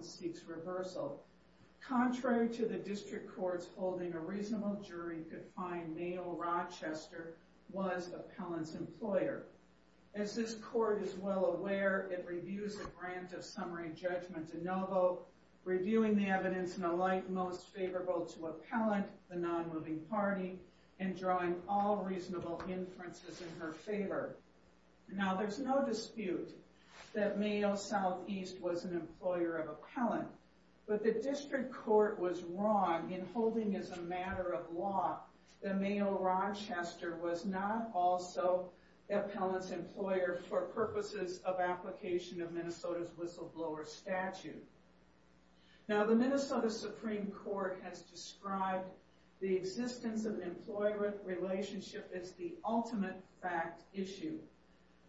seeks reversal. Contrary to the district courts, holding a reasonable jury could find Mayo Rochester was Appellant's employer. As this court is well aware, it reviews a grant of summary judgment de novo, reviewing the evidence in a light most favorable to Appellant, the non-moving party, and drawing all reasonable inferences in her favor. Now there's no dispute that Mayo Southeast was an employer of Appellant, but the district court was wrong in holding as a matter of law that Mayo Rochester was not also Appellant's employer for purposes of application of Minnesota's whistleblower statute. Now the Minnesota Supreme Court has described the existence of employer relationship as the ultimate fact issue.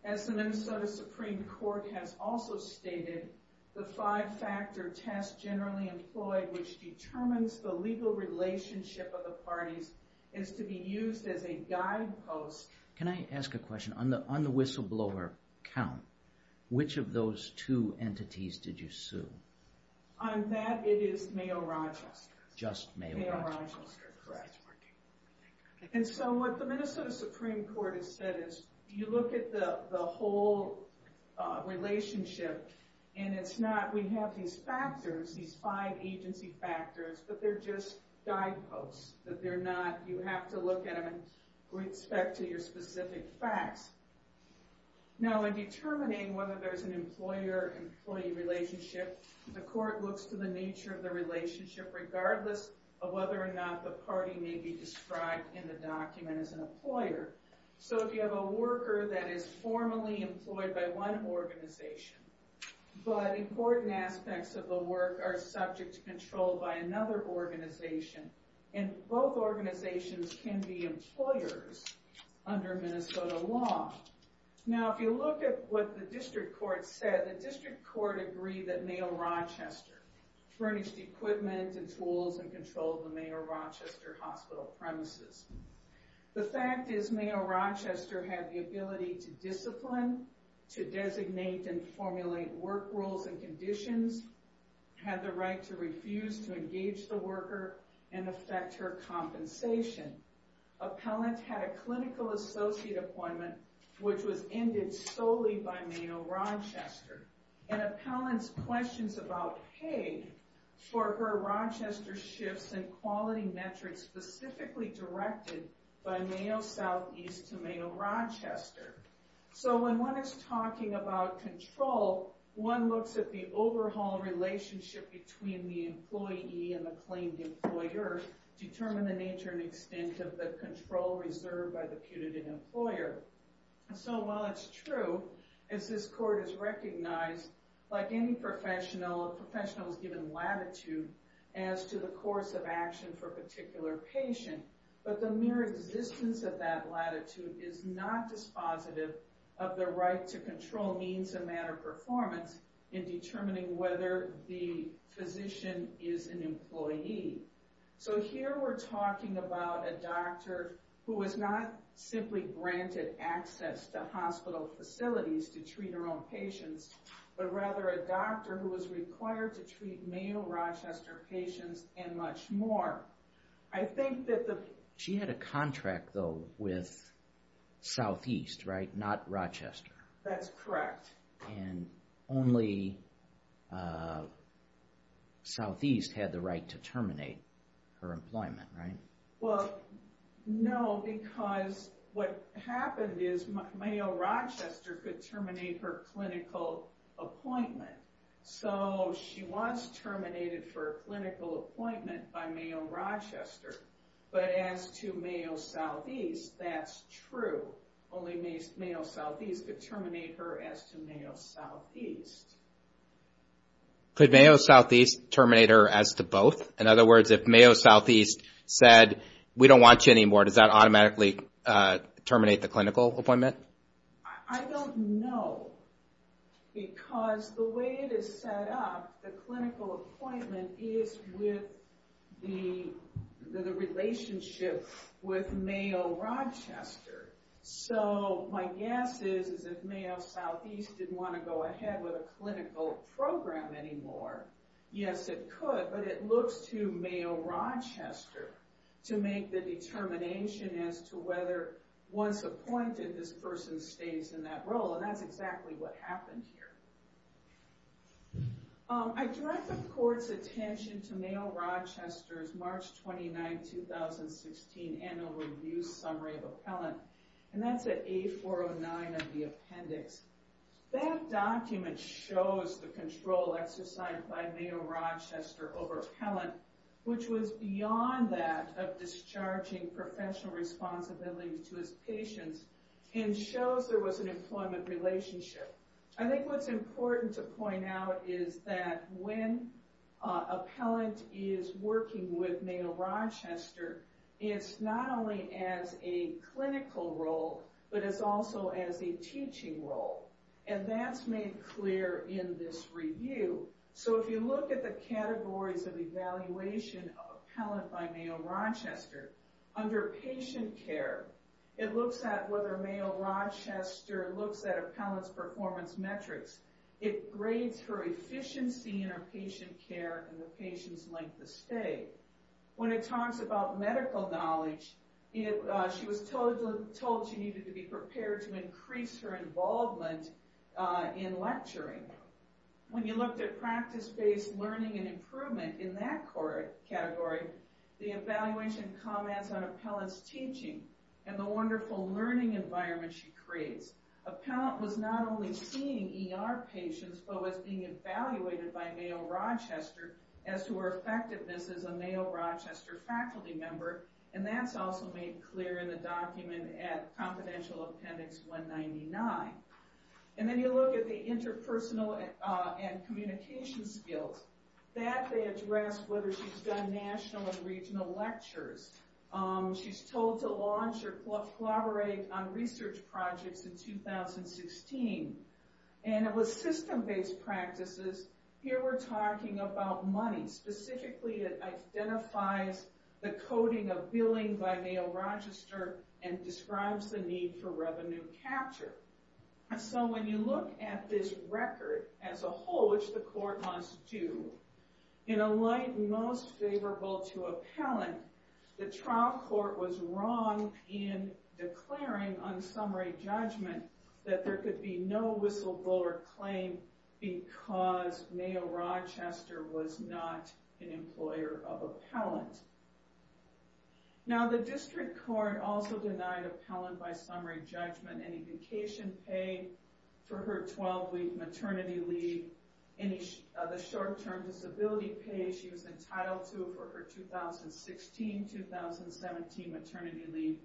As the Minnesota Supreme Court has also stated, the five-factor test generally employed, which determines the legal relationship of the parties, is to be used as a guidepost. Can I ask a question? On the whistleblower count, which of those two entities did you sue? On that, it is Mayo Rochester. Just Mayo? Correct. And so what the Minnesota Supreme Court has said is, you look at the whole relationship, and it's not, we have these factors, these five agency factors, but they're just guideposts, that they're not, you have to look at them with respect to your specific facts. Now in determining whether there's an employer-employee relationship, the court looks to the nature of the relationship regardless of whether or not the party may be described in the document as an employer. So if you have a worker that is formally employed by one organization, but important aspects of the work are subject to control by another organization, and both organizations can be employers under Minnesota law. Now if you look at what the district court said, the district court agreed that Mayo Rochester furnished equipment and tools and controlled the Mayo Rochester hospital premises. The fact is, Mayo Rochester had the ability to discipline, to designate and formulate work rules and conditions, had the right to refuse to engage the worker and affect her compensation. Appellant had a clinical associate appointment which was ended solely by Mayo Rochester, and Appellant's questions about pay for her Rochester shifts and quality metrics specifically directed by Mayo Southeast to Mayo Rochester. So when one is talking about control, one looks at the overhaul relationship between the employee and the claimed employer, determine the nature and extent of the control reserved by the punitive employer. So while it's true, as this court has recognized, like any professional, a professional is given latitude as to the course of action for a particular patient, but the mere existence of that latitude is not dispositive of the right to control means and matter performance in determining whether the physician is an employee. So here we're talking about a doctor who was not simply granted access to hospital facilities to treat her own patients, but rather a doctor who was required to treat Mayo Rochester patients and much more. I think that the... She had a contract though with Southeast, right? Not Rochester. That's correct. And only Southeast had the right to terminate her employment, right? Well, no, because what Rochester could terminate her clinical appointment. So she was terminated for a clinical appointment by Mayo Rochester, but as to Mayo Southeast, that's true. Only Mayo Southeast could terminate her as to Mayo Southeast. Could Mayo Southeast terminate her as to both? In other words, if Mayo Southeast said, we don't want you anymore, does that automatically terminate the clinical appointment? I don't know because the way it is set up, the clinical appointment is with the relationship with Mayo Rochester. So my guess is, is if Mayo Southeast didn't want to go ahead with a clinical program anymore, yes, it could, but it looks to Mayo Rochester to make the person stay in that role. And that's exactly what happened here. I direct the court's attention to Mayo Rochester's March 29, 2016 annual review summary of appellant, and that's at A409 of the appendix. That document shows the control exercised by Mayo Rochester over appellant, which was beyond that of discharging professional responsibility to his patients, and shows there was an employment relationship. I think what's important to point out is that when an appellant is working with Mayo Rochester, it's not only as a clinical role, but it's also as a teaching role. And that's made clear in this review. So if you look at the looks at whether Mayo Rochester looks at appellant's performance metrics, it grades her efficiency in her patient care and the patient's length of stay. When it talks about medical knowledge, she was told she needed to be prepared to increase her involvement in lecturing. When you looked at practice-based learning and improvement in that category, the evaluation comments on appellant's teaching and the wonderful learning environment she creates. Appellant was not only seeing ER patients, but was being evaluated by Mayo Rochester as to her effectiveness as a Mayo Rochester faculty member, and that's also made clear in the document at confidential appendix 199. And then you look at the interpersonal and communication skills. That they address whether she's done national and regional lectures. She's told to launch or collaborate on research projects in 2016. And it was system-based practices. Here we're talking about money. Specifically, it identifies the coding of billing by Mayo Rochester and describes the need for revenue capture. So when you look at this as a whole, which the court must do, in a light most favorable to appellant, the trial court was wrong in declaring on summary judgment that there could be no whistleblower claim because Mayo Rochester was not an employer of appellant. Now the district court also denied appellant by maternity leave, the short-term disability pay she was entitled to for her 2016-2017 maternity leave,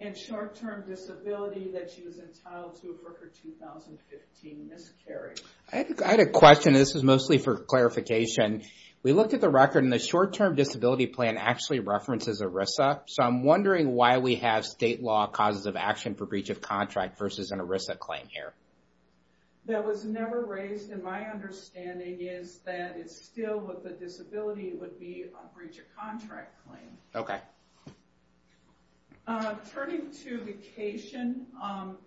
and short-term disability that she was entitled to for her 2015 miscarriage. I had a question. This is mostly for clarification. We looked at the record, and the short-term disability plan actually references ERISA. So I'm wondering why we have state law causes of action for breach of contract versus an ERISA claim here. That was never raised, and my understanding is that it's still with the disability would be a breach of contract claim. Okay. Turning to vacation,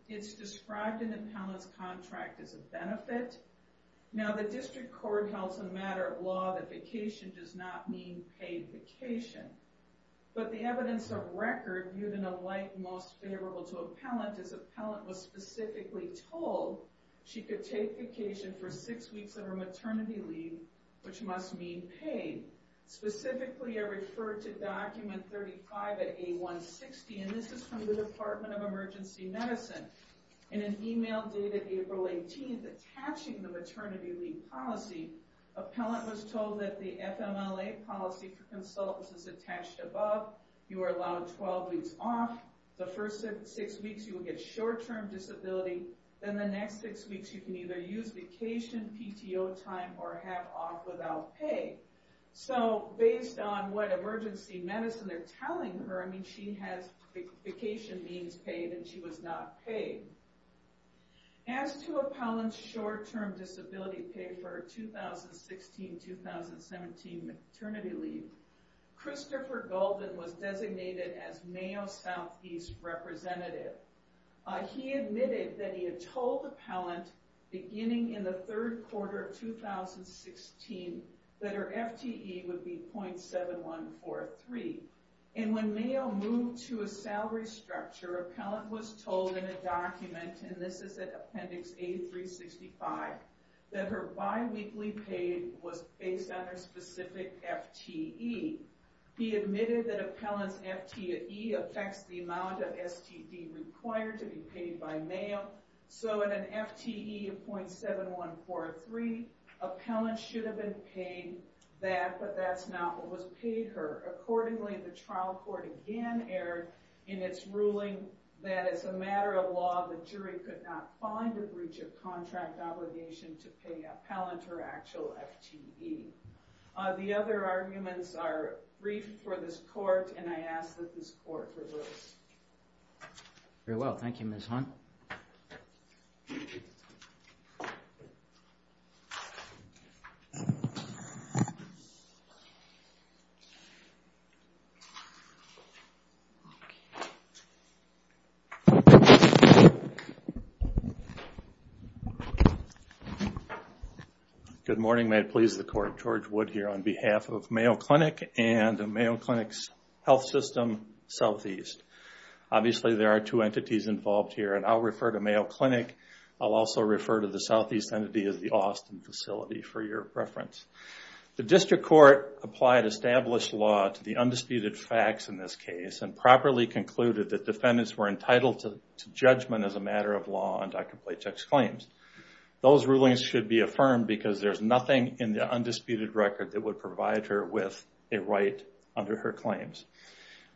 it's described in the appellant's contract as a benefit. Now the district court held as a matter of law that vacation does not mean paid vacation. But the evidence of record, viewed in a light most favorable to appellant, is appellant was specifically told she could take vacation for six weeks of her maternity leave, which must mean paid. Specifically, I referred to document 35 at A160, and this is from the Department of Emergency Medicine. In an email dated April 18, attaching the maternity leave policy, appellant was told that the FMLA policy for consultants is attached above. You are allowed 12 weeks off. The first six weeks you will get short-term disability. Then the next six weeks you can either use vacation PTO time or have off without pay. So based on what emergency medicine they're telling her, I mean she has vacation means paid and she was not paid. As to appellant's short-term disability pay for 2016-2017 maternity leave, Christopher Golden was designated as Mayo Southeast representative. He admitted that he had told appellant beginning in the third quarter of 2016 that her FTE would be .7143. And when Mayo moved to a salary structure, appellant was told in a document, and this is at appendix A365, that her bi-weekly pay was based on her specific FTE. He admitted that appellant's FTE affects the amount of STD required to be paid by Mayo. So in an FTE of .7143, appellant should have been paid that, but that's not what was paid her. Accordingly, the trial court again erred in its ruling that as a matter of law, the jury could not find a breach of contract obligation to pay appellant her actual FTE. The other arguments are briefed for this court, and I ask that this court reverse. Very well, thank you Ms. Hunt. Good morning, may it please the court, George Wood here on behalf of Mayo Clinic and Mayo Clinic's health system, Southeast. Obviously there are two entities involved here, and I'll refer to Mayo Clinic. I'll also refer to the Southeast entity as the Austin facility for your reference. The district court applied established law to the undisputed facts in this case and properly concluded that defendants were entitled to judgment as a matter of law on Dr. Plachek's claims. Those rulings should be affirmed because there's nothing in the undisputed record that would provide her with a right under her claims.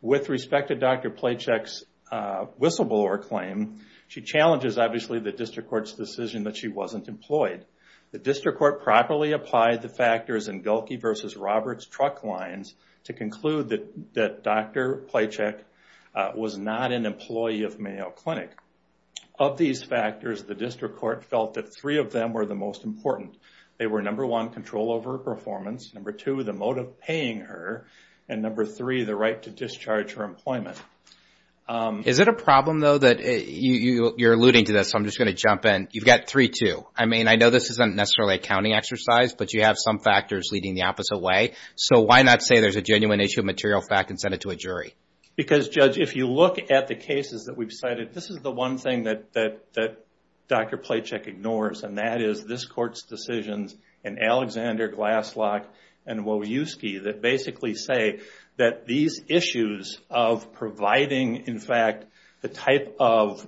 With respect to Dr. Plachek's whistleblower claim, she challenges obviously the district court's decision that she wasn't employed. The district court properly applied the factors in Gilkey versus Roberts truck lines to conclude that Dr. Plachek was not an employee of Mayo Clinic. Of these factors, the district court felt that three of them were the most important. They were number one, control over her performance, number two, the motive paying her, and number three, the right to discharge her employment. Is it a problem though that you're alluding to this, so I'm just going to jump in. You've got three too. I know this isn't necessarily a counting exercise, but you have some factors leading the opposite way. Why not say there's a genuine issue of material fact and send it to a jury? Because Judge, if you look at the cases that we've cited, this is the one thing that Dr. Plachek ignores, and that is this court's decisions in Alexander, Glasslock, and Wojewski that basically say that these issues of providing, in fact, the type of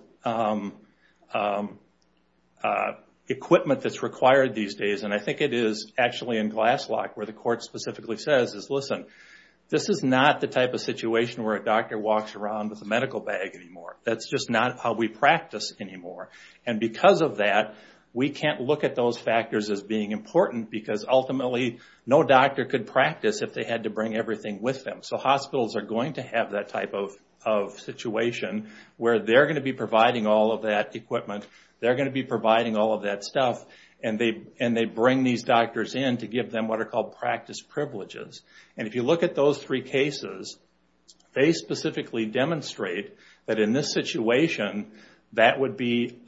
equipment that's required these days, and I think it is actually in Glasslock where the court specifically says, listen, this is not the type of situation where a doctor walks around with a medical bag anymore. That's just not how we practice anymore. Because of that, we can't look at those factors as being important because ultimately, no doctor could practice if they had to bring everything with them. Hospitals are going to have that type of situation where they're going to be providing all of that equipment, they're going to be providing all of that stuff, and they bring these doctors in to give them what are called practice privileges. And if you look at those three cases, they specifically demonstrate that in this situation, that would be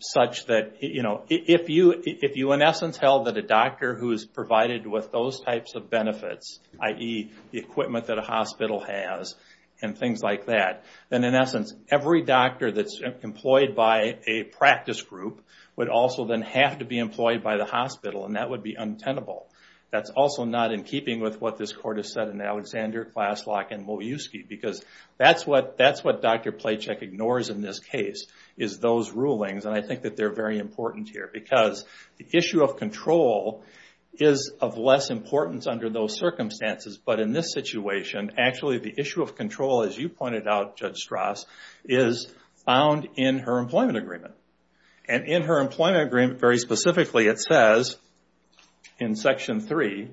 such that if you, in essence, held that a doctor who is provided with those types of benefits, i.e., the equipment that a hospital has and things like that, then in essence, every doctor that's employed by a practice group would also then have to be employed by the hospital, and that would be untenable. That's also not in keeping with what this court has said in Alexander, Klaslok, and Moyewski, because that's what Dr. Playcheck ignores in this case, is those rulings, and I think that they're very important here. Because the issue of control is of less importance under those circumstances, but in this situation, actually, the issue of control, as you pointed out, Judge Strauss, is found in her employment agreement. And in her employment agreement, very specifically, it says in section three,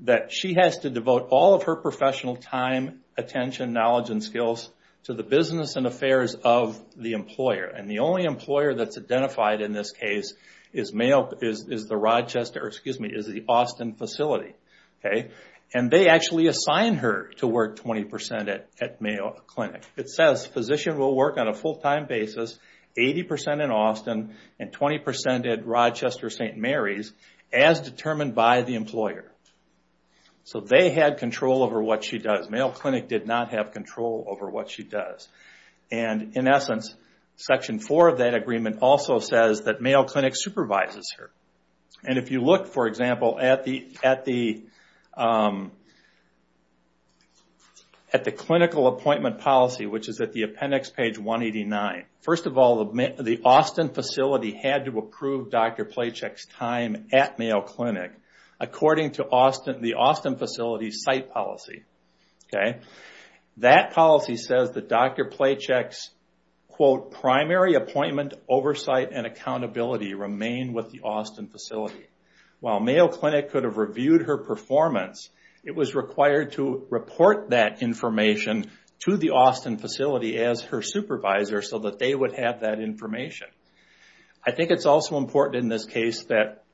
that she has to devote all of her professional time, attention, knowledge, and skills to the business and affairs of the employer. And the only employer that's identified in this case is the Austin facility. And they actually assign her to work 20% at Mayo Clinic. It says, physician will work on a full-time basis, 80% in Austin, and 20% at Rochester-St. Mary's, as determined by the employer. So they had control over what she does. Mayo Clinic did not have control over what she does. And in essence, section four of that agreement also says that Mayo Clinic supervises her. And if you look, for example, at the clinical appointment policy, which is at the appendix, page 189, first of all, the Austin facility had to approve Dr. Playcheck's time at Mayo Clinic, according to the Austin facility's site policy. That policy says that Dr. Playcheck's primary appointment, oversight, and accountability remain with the Austin facility. While Mayo Clinic could have reviewed her performance, it was required to report that information to the Austin facility as her supervisor, so that they would have that information. I think it's also important in this case that,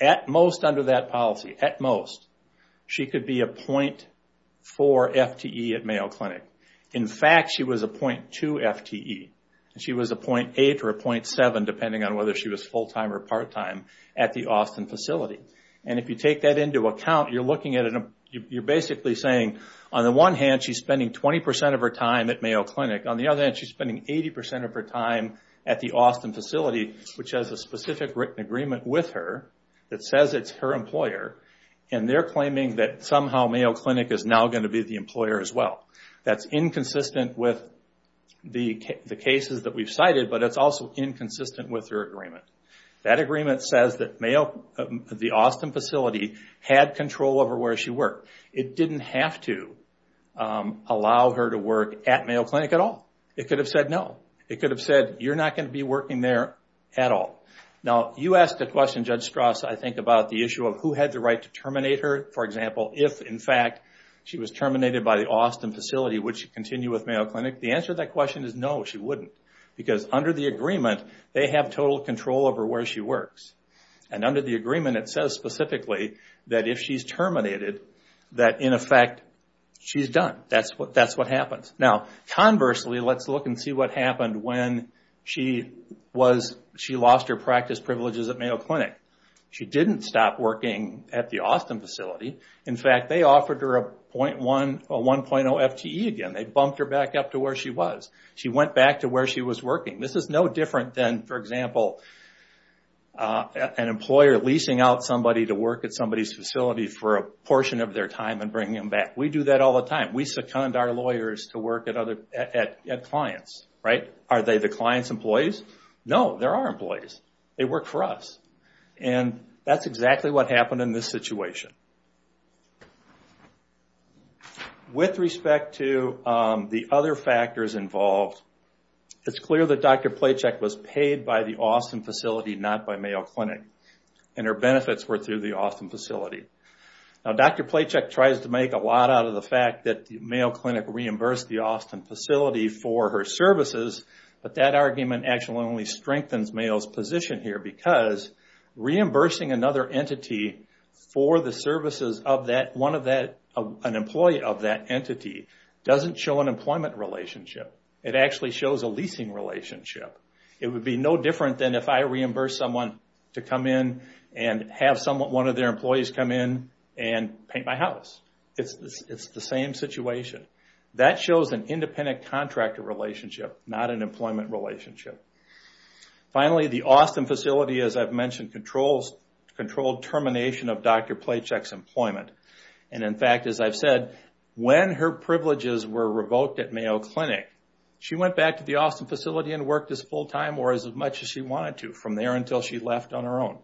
at most under that policy, at most, she could be a .4 FTE at Mayo Clinic. In fact, she was a .2 FTE. She was a .8 or a .7, depending on whether she was full-time or part-time, at the Austin facility. And if you take that into account, you're basically saying, on the one hand, she's spending 20% of her time at Mayo Clinic. On the other hand, she's spending 80% of her time at the Austin facility, which has a specific written agreement with her that says it's her employer, and they're claiming that somehow Mayo Clinic is now going to be the employer as well. That's inconsistent with the cases that we've cited, but it's also inconsistent with her agreement. That agreement says that the Austin facility had control over where she worked. It didn't have to allow her to work at Mayo Clinic at all. It could have said no. It could have said, you're not going to be working there at all. Now, you asked a question, Judge Strauss, I think, about the issue of who had the right to terminate her. For example, if, in fact, she was terminated by the Austin facility, would she continue with Mayo Clinic? The answer to that question is no, she wouldn't. Because under the agreement, they have total control over where she works. And under the agreement, it says specifically that if she's let's look and see what happened when she lost her practice privileges at Mayo Clinic. She didn't stop working at the Austin facility. In fact, they offered her a 1.0 FTE again. They bumped her back up to where she was. She went back to where she was working. This is no different than, for example, an employer leasing out somebody to work at somebody's facility for a portion of their time and bringing them back. We do that all the time. We second our lawyers to clients. Are they the client's employees? No, they're our employees. They work for us. And that's exactly what happened in this situation. With respect to the other factors involved, it's clear that Dr. Plachek was paid by the Austin facility, not by Mayo Clinic. And her benefits were through the Austin facility. Now, Dr. Plachek tries to make a lot out of the fact that the Mayo Clinic reimbursed the for her services. But that argument actually only strengthens Mayo's position here because reimbursing another entity for the services of an employee of that entity doesn't show an employment relationship. It actually shows a leasing relationship. It would be no different than if I reimbursed someone to come in and have one of their employees come in and paint my house. It's the same situation. That shows an independent contractor relationship, not an employment relationship. Finally, the Austin facility, as I've mentioned, controlled termination of Dr. Plachek's employment. And in fact, as I've said, when her privileges were revoked at Mayo Clinic, she went back to the Austin facility and worked as full-time or as much as she wanted to from there until she left on her own.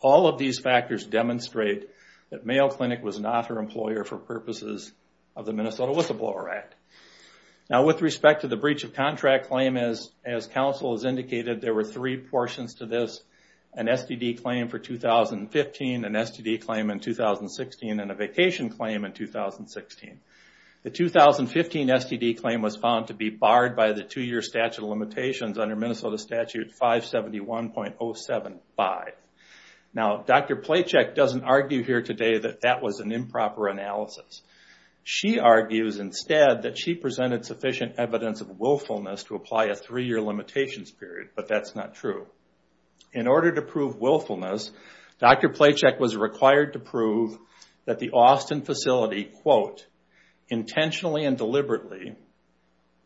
All of these factors demonstrate that Mayo Clinic was not her employer for purposes of the Minnesota Whistleblower Act. Now, with respect to the breach of contract claim, as counsel has indicated, there were three portions to this, an STD claim for 2015, an STD claim in 2016, and a vacation claim in 2016. The 2015 STD claim was found to be Now, Dr. Plachek doesn't argue here today that that was an improper analysis. She argues instead that she presented sufficient evidence of willfulness to apply a three-year limitations period, but that's not true. In order to prove willfulness, Dr. Plachek was required to prove that the Austin facility, quote, intentionally and deliberately,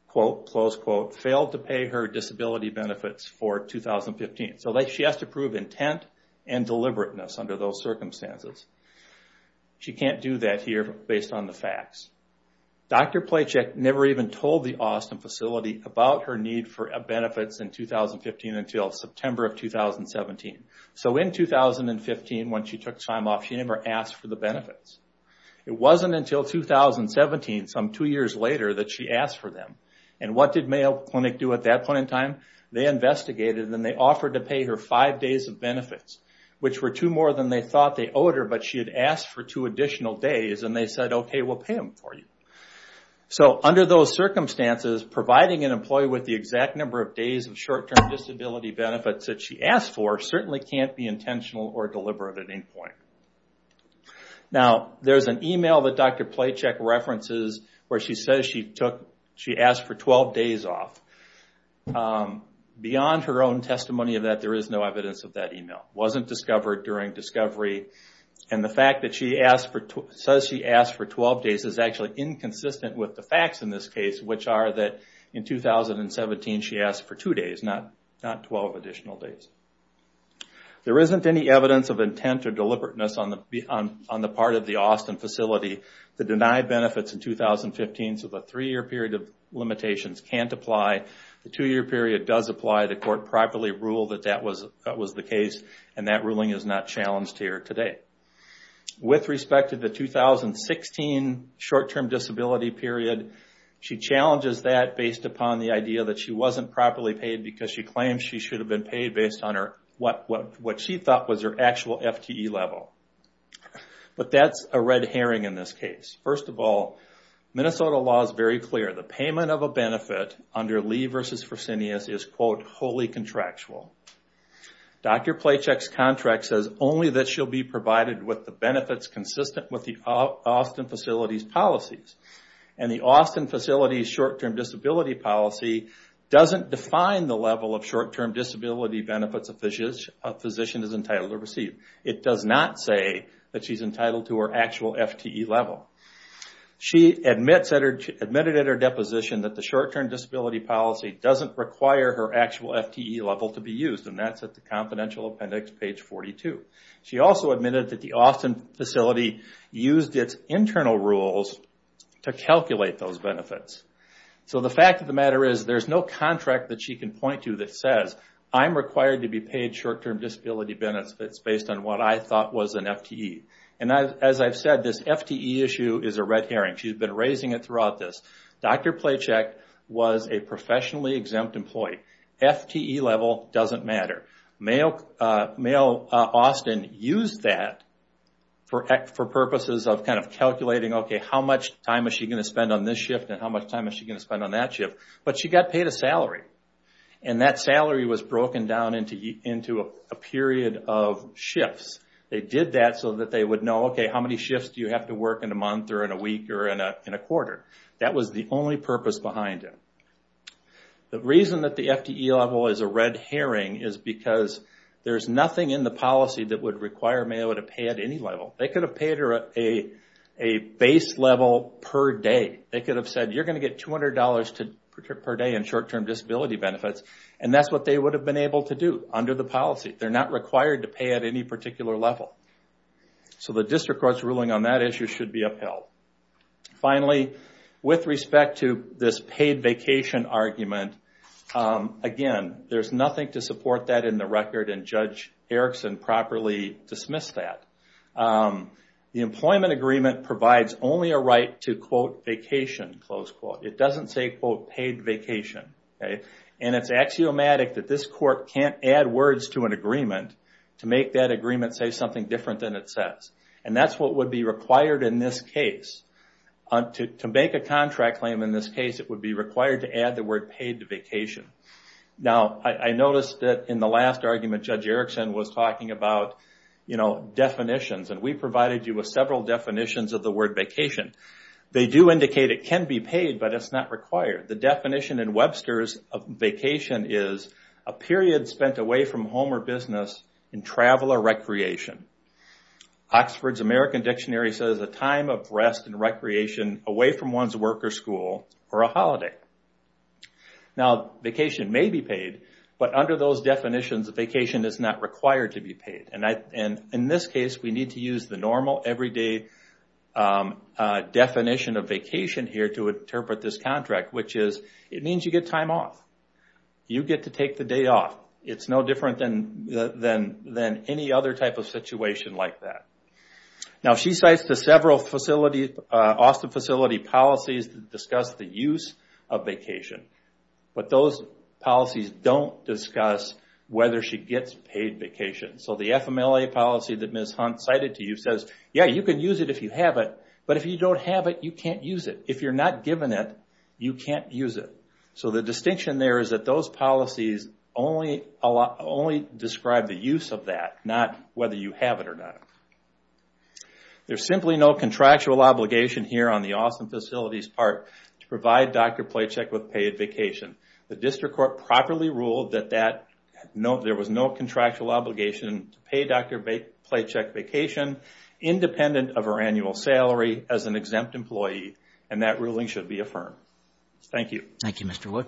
quote, close quote, failed to pay her disability benefits for 2015. So she has to prove intent and deliberateness under those circumstances. She can't do that here based on the facts. Dr. Plachek never even told the Austin facility about her need for benefits in 2015 until September of 2017. So in 2015, when she took time off, she never asked for the benefits. It wasn't until 2017, some two years later, that she asked for them. And what did Mayo Clinic do at that point in time? They investigated and they offered to pay her five days of benefits, which were two more than they thought they owed her, but she had asked for two additional days and they said, okay, we'll pay them for you. So under those circumstances, providing an employee with the exact number of days of short-term disability benefits that she asked for certainly can't be intentional or deliberate at any point. Now, there's an email that Dr. Plachek references where she says she asked for 12 days off. Beyond her own testimony of that, there is no evidence of that email. It wasn't discovered during discovery. And the fact that she says she asked for 12 days is actually inconsistent with the facts in this case, which are that in 2017, she asked for two days, not 12 additional days. There isn't any evidence of intent or deliberateness on the part of the Austin facility to deny benefits in 2015, so the three-year period of limitations can't apply. The two-year period does apply. The court properly ruled that that was the case and that ruling is not challenged here today. With respect to the 2016 short-term disability period, she challenges that based upon the idea that she wasn't properly paid because she claims she should have been paid based on what she thought was her actual FTE level. But that's a red herring in this case. First of all, Minnesota law is very clear. The payment of a benefit under Lee v. Fresenius is quote, wholly contractual. Dr. Plachek's contract says only that she'll be provided with the benefits consistent with the Austin facility's policies. And the Austin facility's short-term disability policy doesn't define the level of short-term disability benefits a physician is entitled to receive. It does not say that she's entitled to her actual FTE level. She admitted at her deposition that the short-term disability policy doesn't require her actual FTE level to be used, and that's at the confidential appendix, page 42. She also admitted that the Austin facility used its internal rules to calculate those benefits. So the fact of the matter is, there's no contract that she can point to that says, I'm required to be paid short-term disability benefits based on what I thought was an FTE. And as I've said, this FTE issue is a red herring. She's been raising it and it doesn't matter. Mayo Austin used that for purposes of calculating, okay, how much time is she going to spend on this shift, and how much time is she going to spend on that shift? But she got paid a salary. And that salary was broken down into a period of shifts. They did that so that they would know, okay, how many shifts do you have to work in a month, or in a week, or in a quarter? That was the only purpose behind it. The reason that the FTE level is a red herring is because there's nothing in the policy that would require Mayo to pay at any level. They could have paid her a base level per day. They could have said, you're going to get $200 per day in short-term disability benefits, and that's what they would have been able to do under the policy. They're not required to pay at any particular level. So the district court's ruling on that issue should be upheld. Finally, with respect to this paid vacation argument, again, there's nothing to support that in the record, and Judge Erickson properly dismissed that. The employment agreement provides only a right to, quote, vacation, close quote. It doesn't say, quote, paid vacation. And it's axiomatic that this court can't add words to an agreement to make that agreement say something different than it required to add the word paid to vacation. Now, I noticed that in the last argument, Judge Erickson was talking about definitions, and we provided you with several definitions of the word vacation. They do indicate it can be paid, but it's not required. The definition in Webster's vacation is a period spent away from home or business in travel or recreation. Oxford's American Dictionary says a time of rest and recreation away from one's work or school or a holiday. Now, vacation may be paid, but under those definitions, vacation is not required to be paid. And in this case, we need to use the normal, everyday definition of vacation here to interpret this contract, which is it means you get time off. You get to take the day off. It's no other type of situation like that. Now, she cites the several Austin facility policies that discuss the use of vacation, but those policies don't discuss whether she gets paid vacation. So the FMLA policy that Ms. Hunt cited to you says, yeah, you can use it if you have it, but if you don't have it, you can't use it. If you're not given it, you can't use it. So the distinction there is that those are not whether you have it or not. There's simply no contractual obligation here on the Austin facility's part to provide Dr. Playcheck with paid vacation. The district court properly ruled that there was no contractual obligation to pay Dr. Playcheck vacation independent of her annual salary as an exempt employee, and that ruling should be affirmed. Thank you. Thank you, Mr. Wood.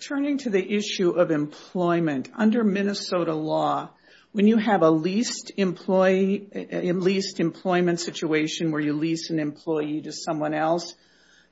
Turning to the issue of employment. Under Minnesota law, when you have a leased employee, a leased employee, you have to pay a payment situation where you lease an employee to someone else.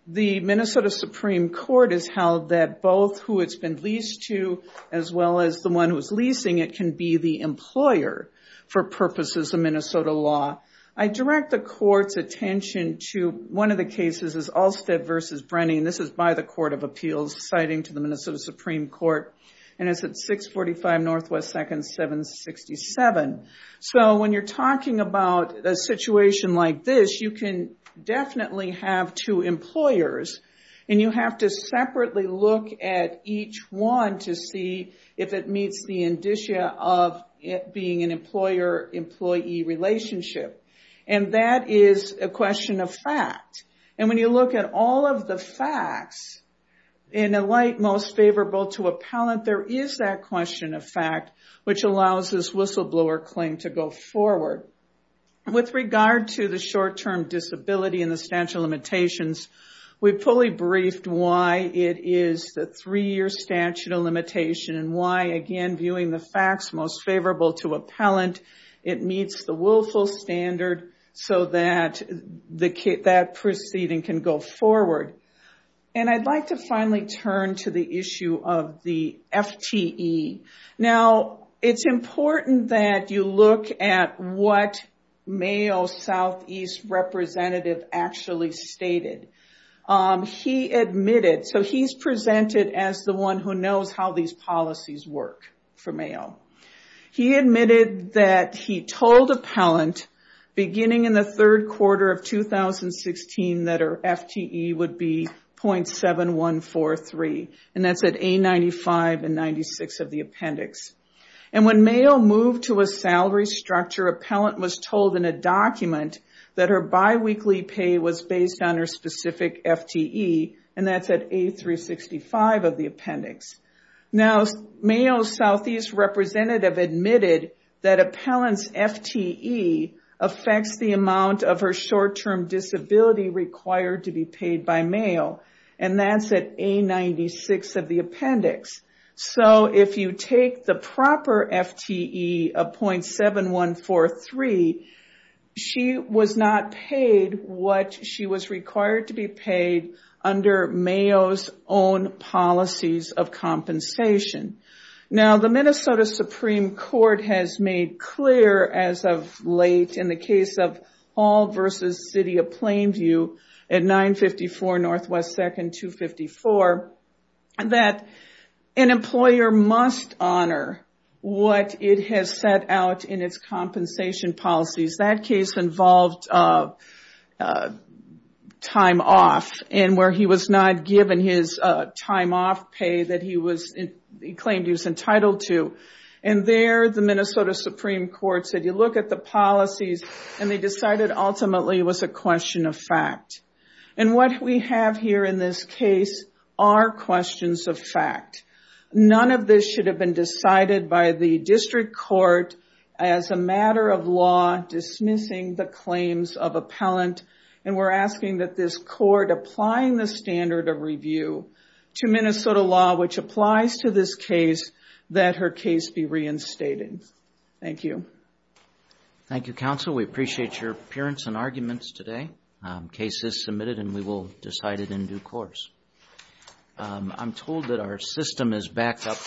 The Minnesota Supreme Court has held that both who it's been leased to as well as the one who's leasing it can be the employer for purposes of Minnesota law. I direct the court's attention to one of the cases is Alstead v. Brennan. This is by the Court of Appeals citing to the Minnesota Supreme Court, and it's at 645 Northwest 2nd 767. So when you're talking about a situation like this, you can definitely have two employers, and you have to separately look at each one to see if it meets the indicia of it being an employer-employee relationship. That is a question of fact. When you look at all of the facts, in a light most favorable to appellant, it meets the willful standard so that proceeding can go forward. I'd like to finally turn to the issue of the FTE. It's what Mayo's Southeast representative actually stated. He admitted, so he's presented as the one who knows how these policies work for Mayo. He admitted that he told appellant beginning in the third quarter of 2016 that her FTE would be .7143, and that's at A95 and 96 of the appendix. When appellant was told in a document that her biweekly pay was based on her specific FTE, and that's at A365 of the appendix. Now, Mayo's Southeast representative admitted that appellant's FTE affects the amount of her short-term disability required to be paid by Mayo, and that's at A96 of the appendix. So, if you take the proper FTE of .7143, she was not paid what she was required to be paid under Mayo's own policies of compensation. Now, the Minnesota An employer must honor what it has set out in its compensation policies. That case involved time off, and where he was not given his time off pay that he claimed he was entitled to. And there, the Minnesota Supreme Court said, you look at the policies, and they decided ultimately it was a question of fact. And what we have here in this case are questions of fact. None of this should have been decided by the district court as a matter of law dismissing the claims of appellant, and we're asking that this court applying the standard of review to Minnesota law, which applies to this case, that her case be reinstated. Thank you. Thank you, counsel. We appreciate your appearance and arguments today. Case is submitted, and we will decide it in due course.